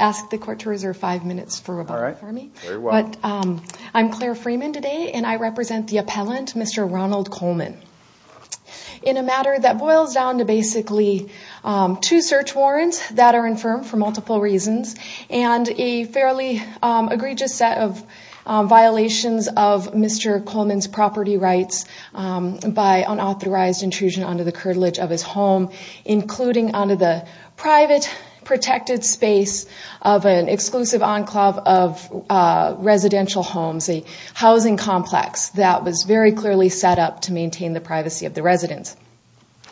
I'm Claire Freeman today and I represent the appellant, Mr. Ronald Coleman. In a matter that boils down to basically two search warrants that are infirmed for multiple reasons and a fairly egregious set of violations of Mr. Coleman's property rights by unauthorized intrusion onto the curtilage of his home, including onto the private protected space of an exclusive enclave of residential homes, a housing complex that was very clearly set up to maintain the privacy of the residents.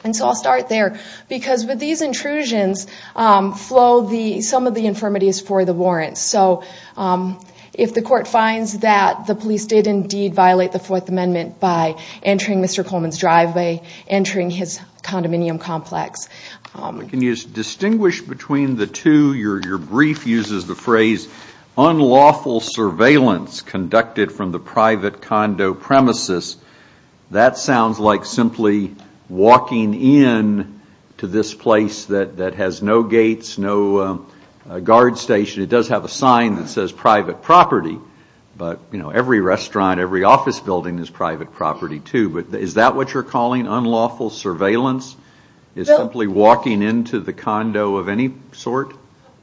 And so I'll start there because with these intrusions flow some of the infirmities for the warrants. So if the court finds that the police did indeed violate the Fourth Amendment by entering Mr. Coleman's driveway, entering his condominium complex. Can you distinguish between the two? Your brief uses the phrase, unlawful surveillance conducted from the private condo premises. That sounds like simply walking in to this place that has no gates, no guard station. It does have a sign that says private property, but every restaurant, every office building is private property too. Is that what you're calling unlawful surveillance? It's simply walking into the condo of any sort?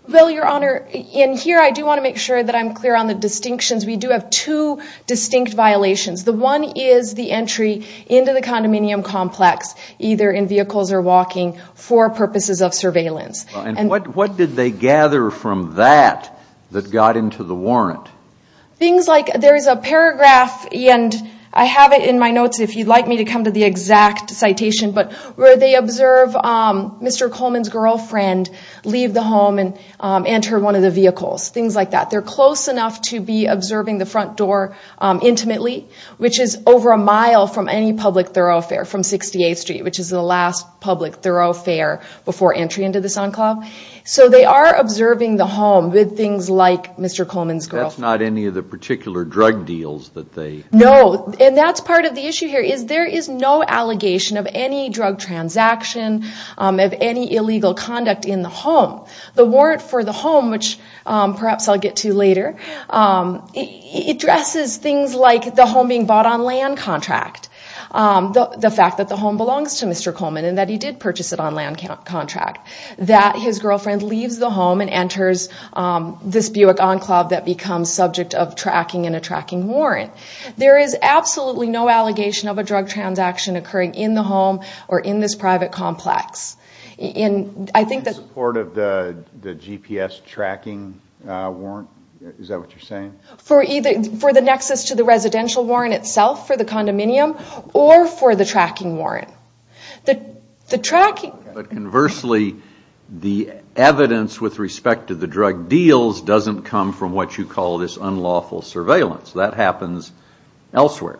Well, Your Honor, in here I do want to make sure that I'm clear on the distinctions. We do have two distinct violations. The one is the entry into the condominium complex, either in vehicles or walking, for purposes of surveillance. And what did they gather from that that got into the warrant? Things like there is a paragraph, and I have it in my notes if you'd like me to come to the exact citation, but where they observe Mr. Coleman's girlfriend leave the home and enter one of the vehicles, things like that. They're close enough to be observing the front door intimately, which is over a mile from any public thoroughfare from 68th Street, which is the last public thoroughfare before entry into the Sun Club. So they are observing the home with things like Mr. Coleman's girlfriend. That's not any of the particular drug deals that they... No, and that's part of the issue here is there is no allegation of any drug transaction, of any illegal conduct in the home. The warrant for the home, which perhaps I'll get to later, addresses things like the home being bought on land contract, the fact that the home belongs to Mr. Coleman and that he did purchase it on land contract. That his girlfriend leaves the home and enters this Buick Enclave that becomes subject of tracking in a tracking warrant. There is absolutely no allegation of a drug transaction occurring in the home or in this private complex. In support of the GPS tracking warrant? Is that what you're saying? For the nexus to the residential warrant itself, for the condominium, or for the tracking warrant. The tracking... But conversely, the evidence with respect to the drug deals doesn't come from what you call this unlawful surveillance. That happens elsewhere.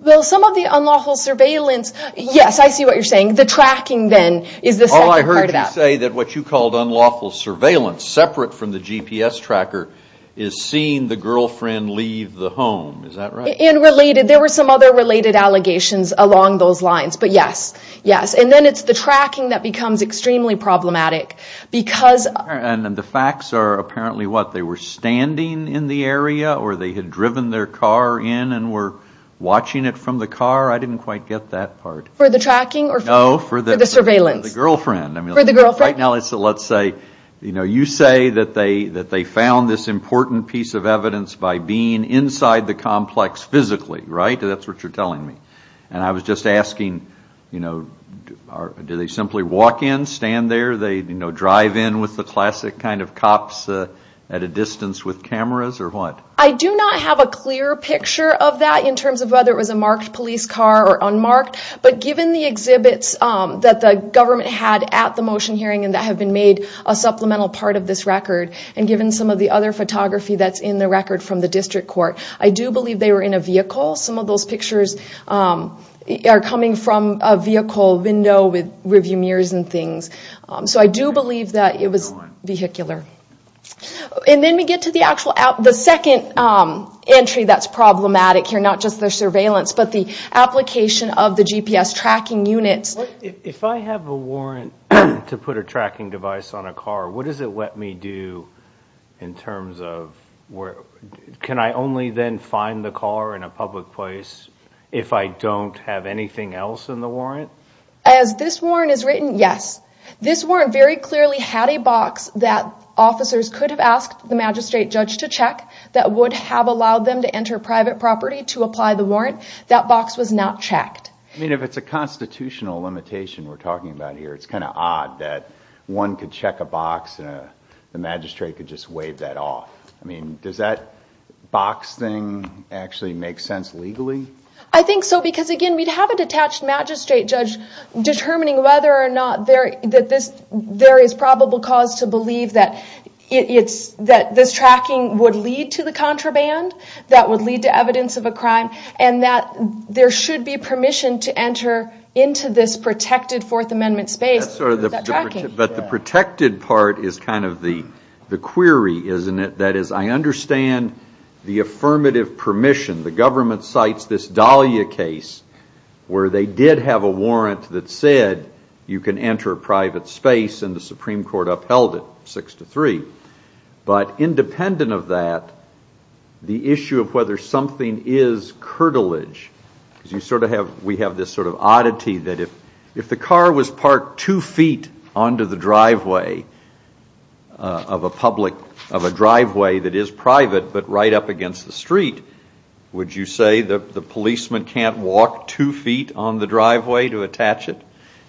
Well, some of the unlawful surveillance... Yes, I see what you're saying. The tracking then is the second part of that. All I heard you say that what you called unlawful surveillance, separate from the GPS tracker, is seeing the girlfriend leave the home. Is that right? There were some other related allegations along those lines, but yes. And then it's the tracking that becomes extremely problematic because... And the facts are apparently what? They were standing in the area or they had driven their car in and were watching it from the car? I didn't quite get that part. For the tracking or for the surveillance? No, for the girlfriend. For the girlfriend? You say that they found this important piece of evidence by being inside the complex physically, right? That's what you're telling me. And I was just asking, do they simply walk in, stand there, drive in with the classic kind of cops at a distance with cameras or what? I do not have a clear picture of that in terms of whether it was a marked police car or unmarked. But given the exhibits that the government had at the motion hearing and that have been made a supplemental part of this record, and given some of the other photography that's in the record from the district court, I do believe they were in a vehicle. Some of those pictures are coming from a vehicle window with review mirrors and things. So I do believe that it was vehicular. And then we get to the second entry that's problematic here, not just the surveillance, but the application of the GPS tracking units. If I have a warrant to put a tracking device on a car, what does it let me do in terms of can I only then find the car in a public place if I don't have anything else in the warrant? As this warrant is written, yes. This warrant very clearly had a box that officers could have asked the magistrate judge to check that would have allowed them to enter private property to apply the warrant. That box was not checked. I mean, if it's a constitutional limitation we're talking about here, it's kind of odd that one could check a box and the magistrate could just waive that off. I mean, does that box thing actually make sense legally? I think so, because again, we'd have a detached magistrate judge determining whether or not there is probable cause to believe that this tracking would lead to the contraband, that would lead to evidence of a crime, and that there should be permission to enter into this protected Fourth Amendment space. But the protected part is kind of the query, isn't it? That is, I understand the affirmative permission. The government cites this Dahlia case where they did have a warrant that said you can enter private space, and the Supreme Court upheld it 6-3. But independent of that, the issue of whether something is curtilage, because we have this sort of oddity that if the car was parked two feet onto the driveway of a driveway that is private, but right up against the street, would you say that the policeman can't walk two feet on the driveway to attach it?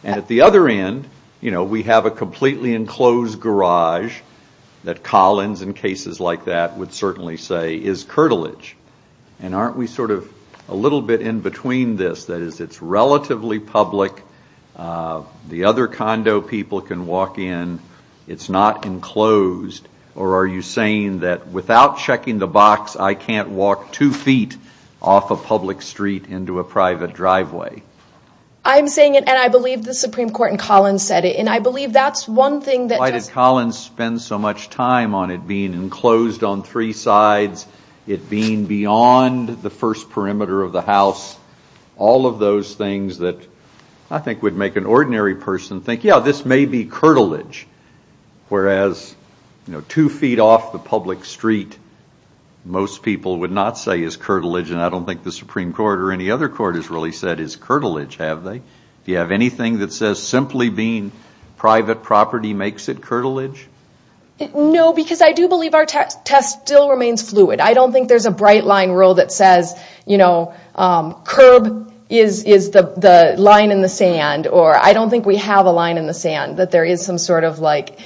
And at the other end, we have a completely enclosed garage that Collins, in cases like that, would certainly say is curtilage. And aren't we sort of a little bit in between this? That is, it's relatively public. The other condo people can walk in. It's not enclosed. Or are you saying that without checking the box, I can't walk two feet off a public street into a private driveway? I'm saying it, and I believe the Supreme Court and Collins said it, and I believe that's one thing that... Why did Collins spend so much time on it being enclosed on three sides, it being beyond the first perimeter of the house, all of those things that I think would make an ordinary person think, yeah, this may be curtilage. Whereas two feet off the public street, most people would not say is curtilage, and I don't think the Supreme Court or any other court has really said is curtilage, have they? Do you have anything that says simply being private property makes it curtilage? No, because I do believe our test still remains fluid. I don't think there's a bright line rule that says curb is the line in the sand, or I don't think we have a line in the sand, that there is some sort of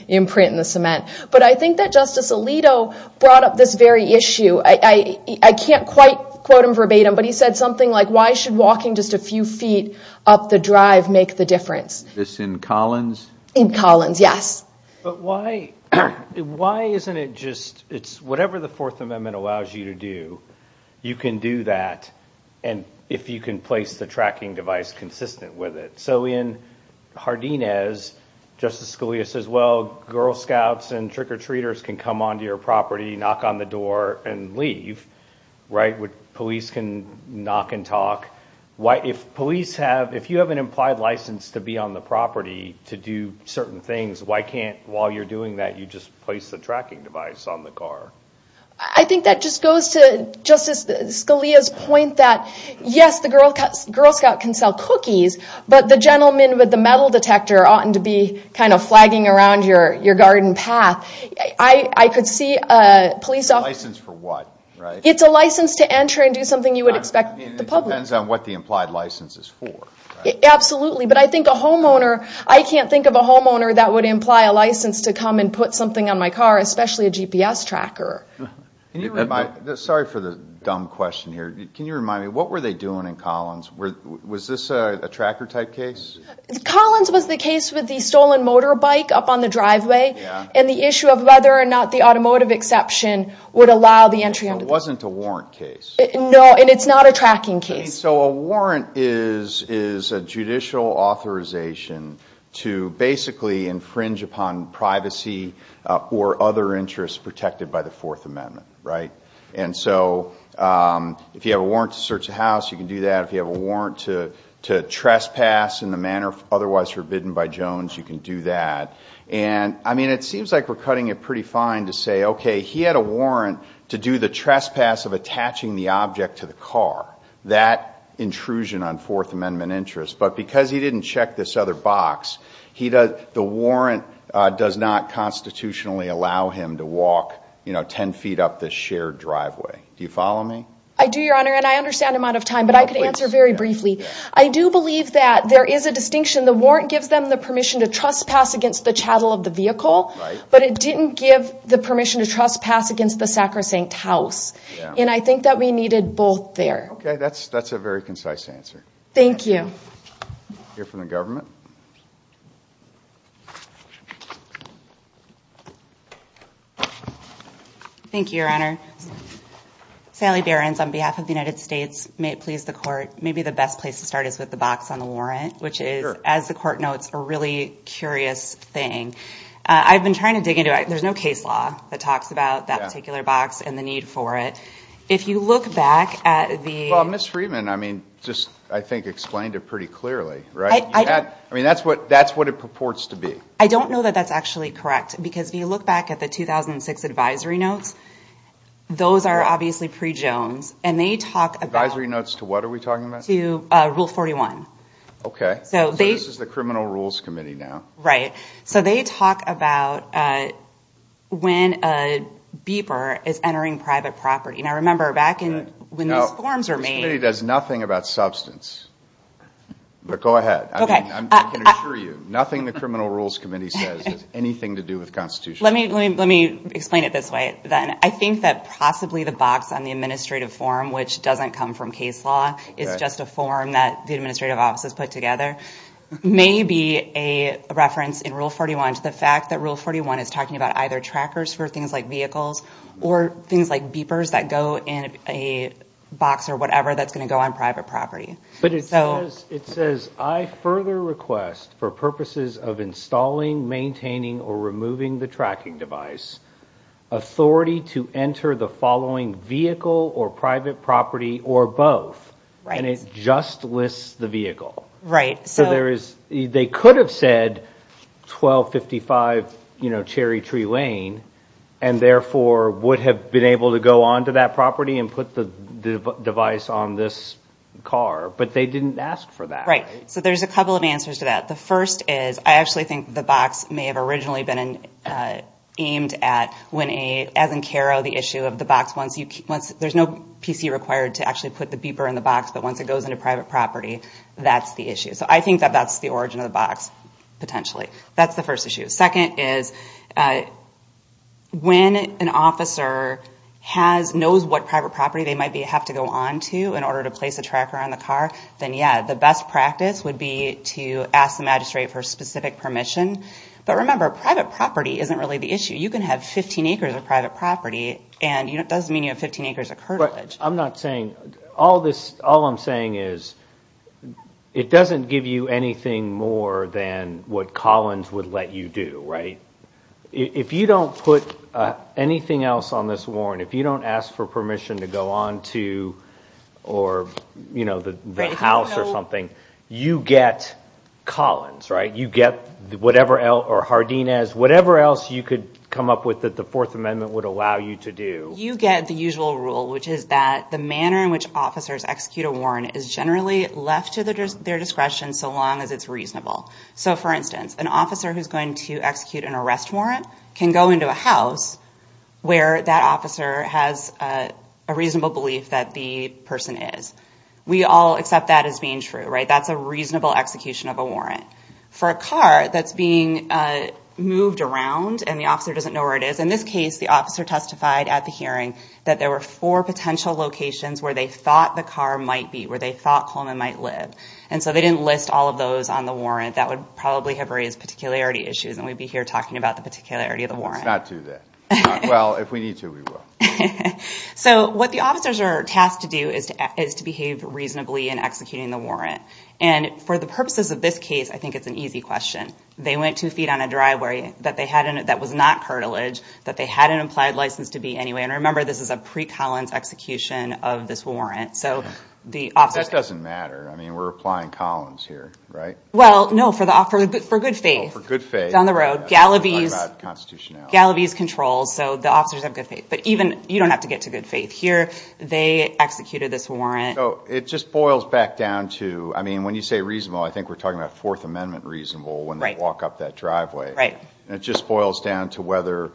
imprint in the cement. But I think that Justice Alito brought up this very issue. I can't quite quote him verbatim, but he said something like, why should walking just a few feet up the drive make the difference? This in Collins? In Collins, yes. But why isn't it just, it's whatever the Fourth Amendment allows you to do, you can do that, and if you can place the tracking device consistent with it. So in Hardinez, Justice Scalia says, well, Girl Scouts and trick-or-treaters can come onto your property, knock on the door, and leave, right? Police can knock and talk. If you have an implied license to be on the property to do certain things, why can't, while you're doing that, you just place the tracking device on the car? I think that just goes to Justice Scalia's point that, yes, the Girl Scout can sell cookies, but the gentleman with the metal detector oughtn't to be kind of flagging around your garden path. I could see a police officer. A license for what, right? It's a license to enter and do something you would expect the public. It depends on what the implied license is for, right? Absolutely, but I think a homeowner, I can't think of a homeowner that would imply a license to come and put something on my car, especially a GPS tracker. Sorry for the dumb question here. Can you remind me, what were they doing in Collins? Was this a tracker-type case? Collins was the case with the stolen motorbike up on the driveway and the issue of whether or not the automotive exception would allow the entry. It wasn't a warrant case. No, and it's not a tracking case. So a warrant is a judicial authorization to basically infringe upon privacy or other interests protected by the Fourth Amendment, right? And so if you have a warrant to search a house, you can do that. If you have a warrant to trespass in the manner otherwise forbidden by Jones, you can do that. And, I mean, it seems like we're cutting it pretty fine to say, okay, he had a warrant to do the trespass of attaching the object to the car. That intrusion on Fourth Amendment interest. But because he didn't check this other box, the warrant does not constitutionally allow him to walk 10 feet up this shared driveway. Do you follow me? I do, Your Honor, and I understand the amount of time, but I could answer very briefly. I do believe that there is a distinction. The warrant gives them the permission to trespass against the chattel of the vehicle, but it didn't give the permission to trespass against the sacrosanct house. And I think that we needed both there. Okay, that's a very concise answer. We'll hear from the government. Thank you, Your Honor. Sally Behrens, on behalf of the United States, may it please the Court, maybe the best place to start is with the box on the warrant, which is, as the Court notes, a really curious thing. I've been trying to dig into it. There's no case law that talks about that particular box and the need for it. If you look back at the... Well, Ms. Freeman, I mean, just I think explained it pretty clearly, right? I mean, that's what it purports to be. I don't know that that's actually correct, because if you look back at the 2006 advisory notes, those are obviously pre-Jones, and they talk about... Advisory notes to what are we talking about? To Rule 41. Okay, so this is the Criminal Rules Committee now. Right, so they talk about when a beeper is entering private property. Now, remember, back when these forms were made... Now, this committee does nothing about substance, but go ahead. Okay. I mean, I can assure you, nothing the Criminal Rules Committee says has anything to do with Constitution. Let me explain it this way, then. I think that possibly the box on the administrative form, which doesn't come from case law, is just a form that the administrative offices put together, may be a reference in Rule 41 to the fact that Rule 41 is talking about either trackers for things like vehicles or things like beepers that go in a box or whatever that's going to go on private property. But it says, I further request, for purposes of installing, maintaining, or removing the tracking device, authority to enter the following vehicle or private property or both, and it just lists the vehicle. Right. So there is... They could have said 1255 Cherry Tree Lane and therefore would have been able to go onto that property and put the device on this car, but they didn't ask for that, right? Right. So there's a couple of answers to that. The first is I actually think the box may have originally been aimed at, as in CARO, the issue of the box once you... There's no PC required to actually put the beeper in the box, but once it goes into private property, that's the issue. So I think that that's the origin of the box, potentially. That's the first issue. Second is when an officer knows what private property they might have to go onto in order to place a tracker on the car, then, yeah, the best practice would be to ask the magistrate for specific permission. But remember, private property isn't really the issue. You can have 15 acres of private property, and it doesn't mean you have 15 acres of cartilage. I'm not saying... All I'm saying is it doesn't give you anything more than what Collins would let you do, right? If you don't put anything else on this warrant, if you don't ask for permission to go onto the house or something, you get Collins, right? You get whatever else, or Hardinez, whatever else you could come up with that the Fourth Amendment would allow you to do. But you get the usual rule, which is that the manner in which officers execute a warrant is generally left to their discretion so long as it's reasonable. So, for instance, an officer who's going to execute an arrest warrant can go into a house where that officer has a reasonable belief that the person is. We all accept that as being true, right? That's a reasonable execution of a warrant. For a car that's being moved around and the officer doesn't know where it is, in this case, the officer testified at the hearing that there were four potential locations where they thought the car might be, where they thought Coleman might live. And so they didn't list all of those on the warrant. That would probably have raised particularity issues, and we'd be here talking about the particularity of the warrant. Let's not do that. Well, if we need to, we will. So what the officers are tasked to do is to behave reasonably in executing the warrant. And for the purposes of this case, I think it's an easy question. They went two feet on a driveway that was not cartilage, that they had an implied license to be anyway. And remember, this is a pre-Collins execution of this warrant. That doesn't matter. I mean, we're applying Collins here, right? Well, no, for good faith. For good faith. Down the road. Gallaby's controls, so the officers have good faith. But even you don't have to get to good faith. Here they executed this warrant. So it just boils back down to, I mean, when you say reasonable, I think we're talking about Fourth Amendment reasonable when they walk up that driveway. Right. And it just boils down to whether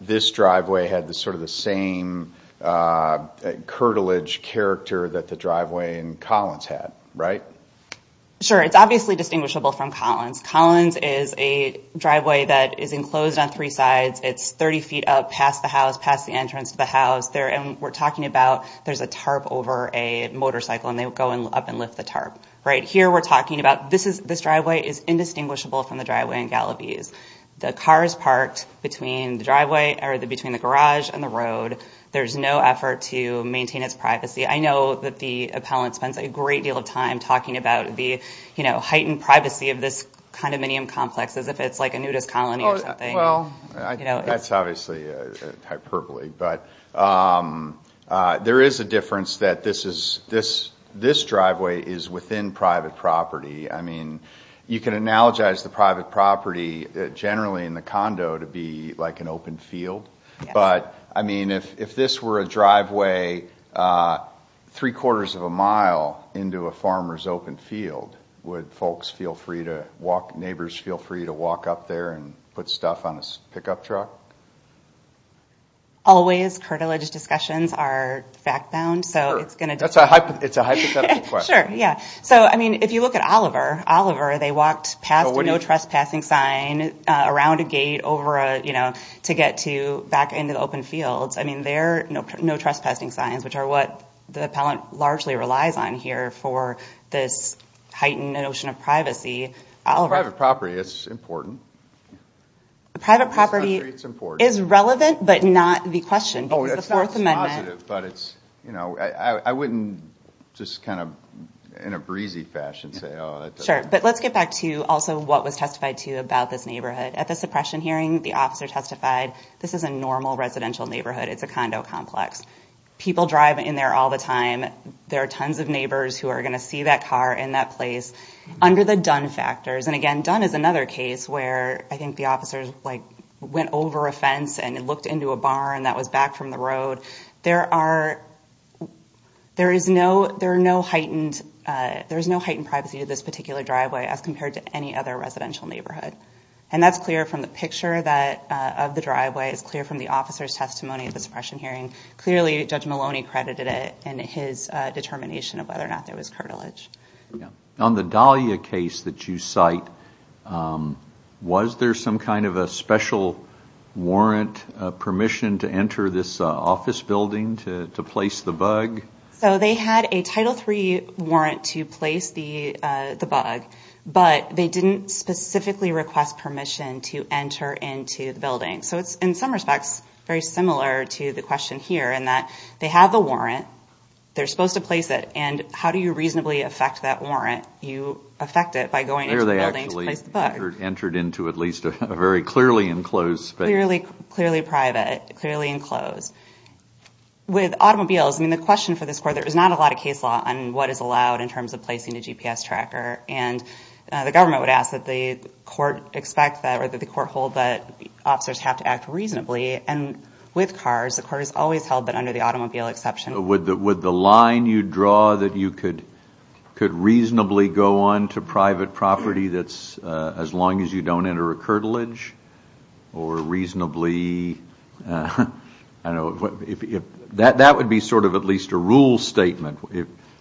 this driveway had sort of the same cartilage character that the driveway in Collins had, right? Sure. It's obviously distinguishable from Collins. Collins is a driveway that is enclosed on three sides. It's 30 feet up past the house, past the entrance to the house. And we're talking about there's a tarp over a motorcycle, and they would go up and lift the tarp. Right. Here we're talking about this driveway is indistinguishable from the driveway in Gallaby's. The car is parked between the driveway or between the garage and the road. There's no effort to maintain its privacy. I know that the appellant spends a great deal of time talking about the heightened privacy of this condominium complex as if it's like a nudist colony or something. That's obviously hyperbole. But there is a difference that this driveway is within private property. I mean, you can analogize the private property generally in the condo to be like an open field. But, I mean, if this were a driveway three-quarters of a mile into a farmer's open field, would folks feel free to walk, neighbors feel free to walk up there and put stuff on a pickup truck? Always, cartilage discussions are fact-bound. It's a hypothetical question. Sure. Yeah. So, I mean, if you look at Oliver, Oliver, they walked past a no trespassing sign around a gate over a, you know, to get to back into the open fields. I mean, they're no trespassing signs, which are what the appellant largely relies on here for this heightened notion of privacy. Private property is important. Private property is relevant, but not the question. But it's, you know, I wouldn't just kind of in a breezy fashion say, oh. Sure. But let's get back to also what was testified to about this neighborhood. At the suppression hearing, the officer testified this is a normal residential neighborhood. It's a condo complex. People drive in there all the time. There are tons of neighbors who are going to see that car in that place under the done factors. And again, done is another case where I think the officers, like, went over a fence and looked into a barn that was back from the road. There are, there is no, there are no heightened, there is no heightened privacy to this particular driveway as compared to any other residential neighborhood. And that's clear from the picture that, of the driveway. It's clear from the officer's testimony at the suppression hearing. Clearly, Judge Maloney credited it in his determination of whether or not there was cartilage. On the Dahlia case that you cite, was there some kind of a special warrant, permission to enter this office building to place the bug? So they had a Title III warrant to place the bug. But they didn't specifically request permission to enter into the building. So it's, in some respects, very similar to the question here in that they have the warrant. They're supposed to place it. And how do you reasonably affect that warrant? You affect it by going into the building to place the bug. There they actually entered into at least a very clearly enclosed space. Clearly private, clearly enclosed. With automobiles, I mean, the question for this court, there is not a lot of case law on what is allowed in terms of placing a GPS tracker. And the government would ask that the court expect that, or that the court hold that officers have to act reasonably. And with cars, the court has always held that under the automobile exception. Would the line you draw that you could reasonably go on to private property that's as long as you don't enter a curtilage? Or reasonably, I don't know, that would be sort of at least a rule statement.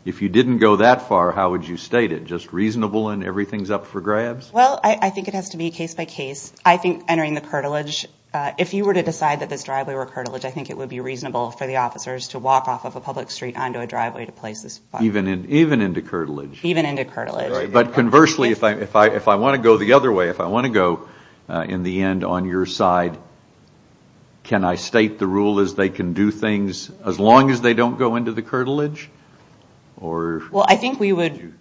If you didn't go that far, how would you state it? Just reasonable and everything's up for grabs? Well, I think it has to be case by case. I think entering the curtilage, if you were to decide that this driveway were a curtilage, I think it would be reasonable for the officers to walk off of a public street onto a driveway to place this bug. Even into curtilage? Even into curtilage. Right. But conversely, if I want to go the other way, if I want to go in the end on your side, can I state the rule as they can do things as long as they don't go into the curtilage? Well, I think we would,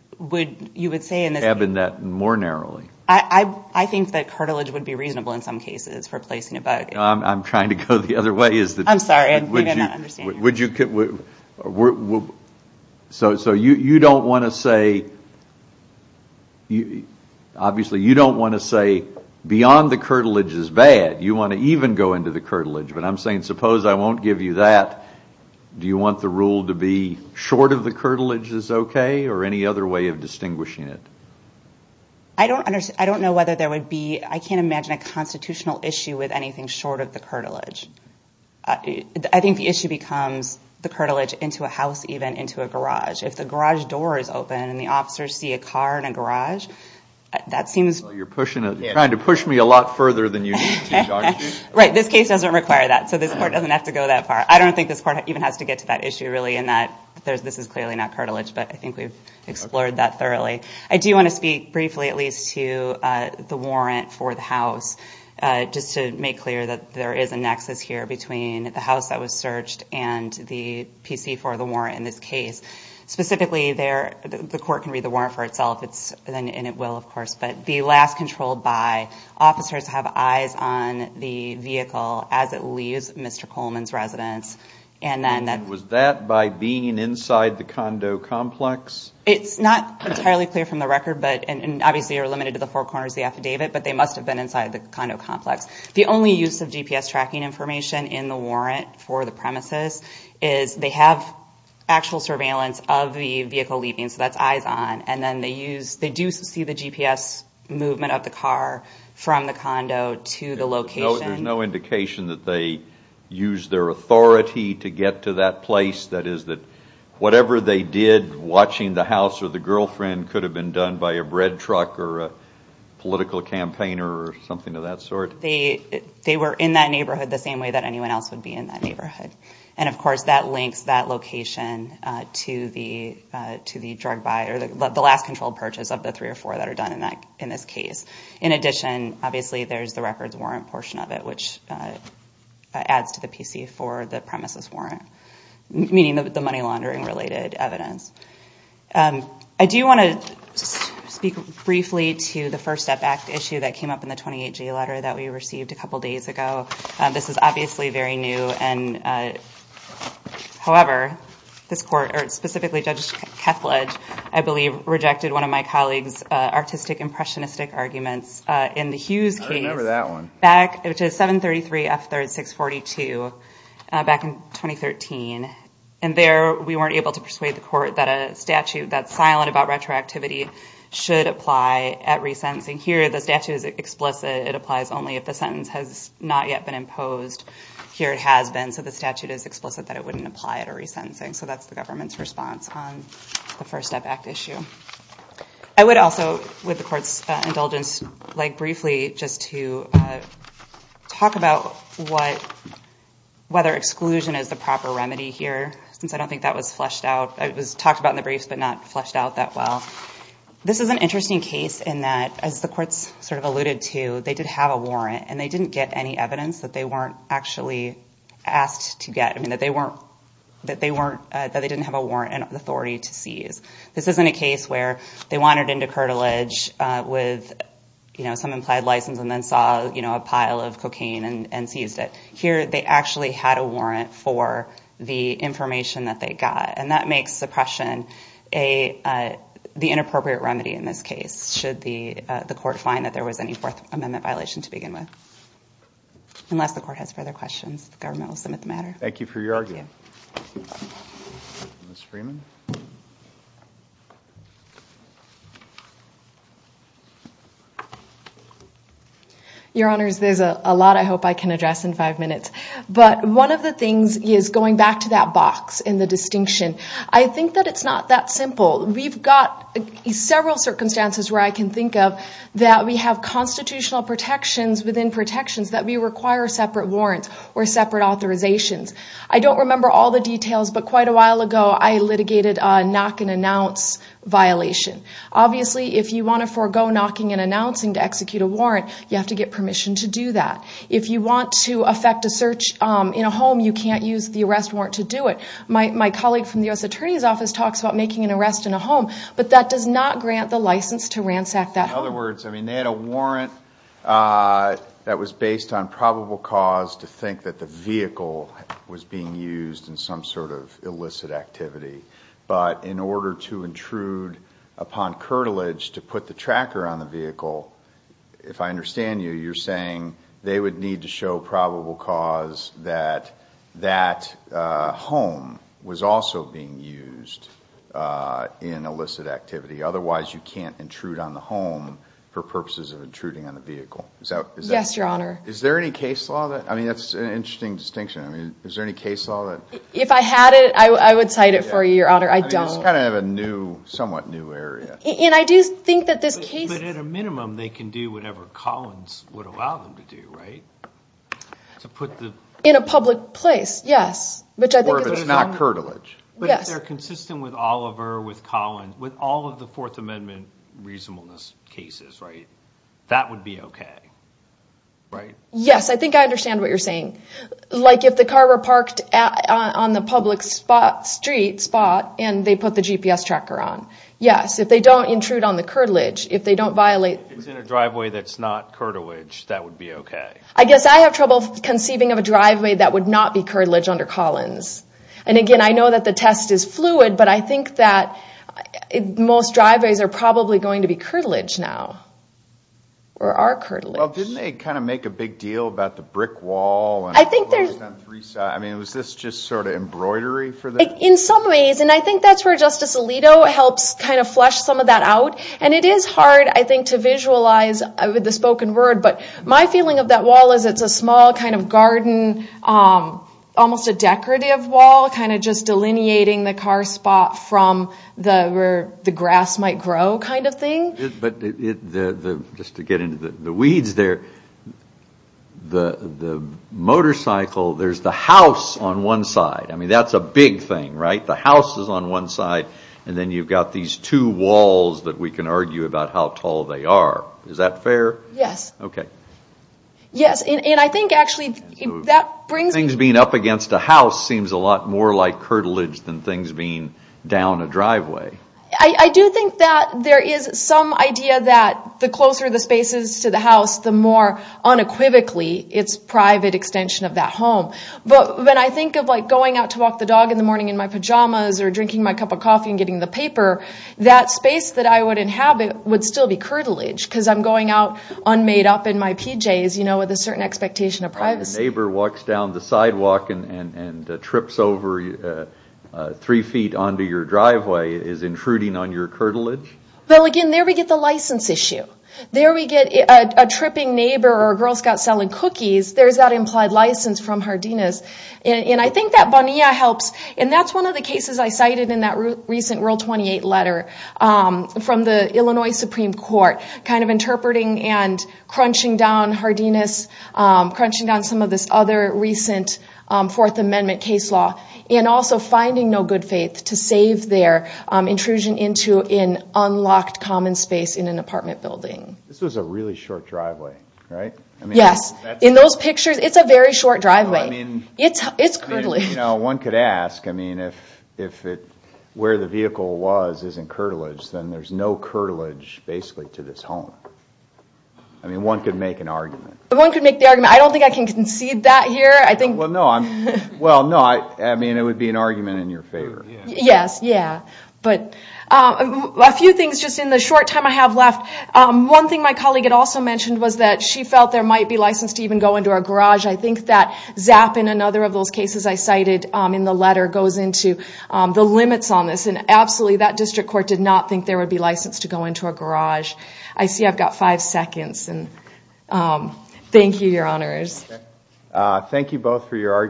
you would say in this case. Cabin that more narrowly. I think that curtilage would be reasonable in some cases for placing a bug. I'm trying to go the other way. I'm sorry. We did not understand you. So you don't want to say, obviously you don't want to say beyond the curtilage is bad. You want to even go into the curtilage. But I'm saying suppose I won't give you that, do you want the rule to be short of the curtilage is okay? Or any other way of distinguishing it? I don't know whether there would be, I can't imagine a constitutional issue with anything short of the curtilage. I think the issue becomes the curtilage into a house even, into a garage. If the garage door is open and the officers see a car in a garage, that seems. You're trying to push me a lot further than you need to. Right. This case doesn't require that. So this court doesn't have to go that far. I don't think this court even has to get to that issue really in that this is clearly not curtilage. But I think we've explored that thoroughly. I do want to speak briefly at least to the warrant for the house. Just to make clear that there is a nexus here between the house that was searched and the PC for the warrant in this case. Specifically, the court can read the warrant for itself, and it will of course. But the last controlled by, officers have eyes on the vehicle as it leaves Mr. Coleman's residence. Was that by being inside the condo complex? It's not entirely clear from the record, and obviously you're limited to the four corners of the affidavit, but they must have been inside the condo complex. The only use of GPS tracking information in the warrant for the premises is they have actual surveillance of the vehicle leaving. So that's eyes on. And then they do see the GPS movement of the car from the condo to the location. There's no indication that they used their authority to get to that place. That is that whatever they did watching the house or the girlfriend could have been done by a bread truck or a political campaigner or something of that sort? They were in that neighborhood the same way that anyone else would be in that neighborhood. And of course that links that location to the drug buyer, the last controlled purchase of the three or four that are done in this case. In addition, obviously there's the records warrant portion of it, which adds to the PC for the premises warrant. Meaning the money laundering related evidence. I do want to speak briefly to the First Step Act issue that came up in the 28-G letter that we received a couple days ago. This is obviously very new. However, this court, or specifically Judge Kethledge, I believe rejected one of my colleagues' artistic impressionistic arguments in the Hughes case. I remember that one. Which is 733 F3rd 642 back in 2013. And there we weren't able to persuade the court that a statute that's silent about retroactivity should apply at resentencing. Here the statute is explicit. It applies only if the sentence has not yet been imposed. Here it has been. So the statute is explicit that it wouldn't apply at a resentencing. So that's the government's response on the First Step Act issue. I would also, with the court's indulgence, like briefly just to talk about whether exclusion is the proper remedy here. Since I don't think that was fleshed out. It was talked about in the briefs, but not fleshed out that well. This is an interesting case in that, as the courts sort of alluded to, they did have a warrant. And they didn't get any evidence that they weren't actually asked to get. This isn't a case where they wandered into curtilage with some implied license and then saw a pile of cocaine and seized it. Here they actually had a warrant for the information that they got. And that makes suppression the inappropriate remedy in this case. Should the court find that there was any Fourth Amendment violation to begin with. Unless the court has further questions, the government will submit the matter. Thank you for your argument. Thank you. Your Honors, there's a lot I hope I can address in five minutes. But one of the things is going back to that box in the distinction. I think that it's not that simple. We've got several circumstances where I can think of that we have constitutional protections within protections that we require separate warrants or separate authorizations. I don't remember all the details, but quite a while ago I litigated a knock and announce violation. Obviously, if you want to forego knocking and announcing to execute a warrant, you have to get permission to do that. If you want to affect a search in a home, you can't use the arrest warrant to do it. My colleague from the U.S. Attorney's Office talks about making an arrest in a home. But that does not grant the license to ransack that home. In other words, they had a warrant that was based on probable cause to think that the vehicle was being used in some sort of illicit activity. But in order to intrude upon curtilage to put the tracker on the vehicle, if I understand you, you're saying they would need to show probable cause that that home was also being used in illicit activity. Otherwise, you can't intrude on the home for purposes of intruding on the vehicle. Yes, Your Honor. Is there any case law? I mean, that's an interesting distinction. Is there any case law? If I had it, I would cite it for you, Your Honor. I don't. It's kind of a somewhat new area. And I do think that this case... But at a minimum, they can do whatever Collins would allow them to do, right? In a public place, yes. Or if it's not curtilage. But if they're consistent with Oliver, with Collins, with all of the Fourth Amendment reasonableness cases, right, that would be okay, right? Yes, I think I understand what you're saying. Like if the car were parked on the public street spot and they put the GPS tracker on. Yes, if they don't intrude on the curtilage, if they don't violate... If it's in a driveway that's not curtilage, that would be okay. I guess I have trouble conceiving of a driveway that would not be curtilage under Collins. And again, I know that the test is fluid, but I think that most driveways are probably going to be curtilage now. Or are curtilage. Well, didn't they kind of make a big deal about the brick wall? I think there's... I mean, was this just sort of embroidery for them? In some ways. And I think that's where Justice Alito helps kind of flesh some of that out. And it is hard, I think, to visualize with the spoken word. But my feeling of that wall is it's a small kind of garden, almost a decorative wall, kind of just delineating the car spot from where the grass might grow kind of thing. But just to get into the weeds there, the motorcycle, there's the house on one side. I mean, that's a big thing, right? The house is on one side, and then you've got these two walls that we can argue about how tall they are. Is that fair? Yes. Okay. Yes. And I think, actually, that brings me... Things being up against a house seems a lot more like curtilage than things being down a driveway. I do think that there is some idea that the closer the space is to the house, the more unequivocally it's private extension of that home. But when I think of, like, going out to walk the dog in the morning in my pajamas or drinking my cup of coffee and getting the paper, that space that I would inhabit would still be curtilage because I'm going out unmade up in my PJs, you know, with a certain expectation of privacy. A neighbor walks down the sidewalk and trips over three feet onto your driveway. Is intruding on your curtilage? Well, again, there we get the license issue. There we get a tripping neighbor or a Girl Scout selling cookies. There's that implied license from Hardina's. And I think that Bonilla helps. And that's one of the cases I cited in that recent World 28 letter from the Illinois Supreme Court. Kind of interpreting and crunching down Hardina's, crunching down some of this other recent Fourth Amendment case law, and also finding no good faith to save their intrusion into an unlocked common space in an apartment building. This was a really short driveway, right? Yes. In those pictures, it's a very short driveway. It's curtilage. You know, one could ask, I mean, if where the vehicle was isn't curtilage, then there's no curtilage, basically, to this home. I mean, one could make an argument. One could make the argument. I don't think I can concede that here. Well, no. I mean, it would be an argument in your favor. Yes, yeah. But a few things just in the short time I have left. One thing my colleague had also mentioned was that she felt there might be license to even go into our garage. I think that ZAP in another of those cases I cited in the letter goes into the limits on this. And absolutely, that district court did not think there would be license to go into a garage. I see I've got five seconds. Thank you, Your Honors. Thank you both for your arguments.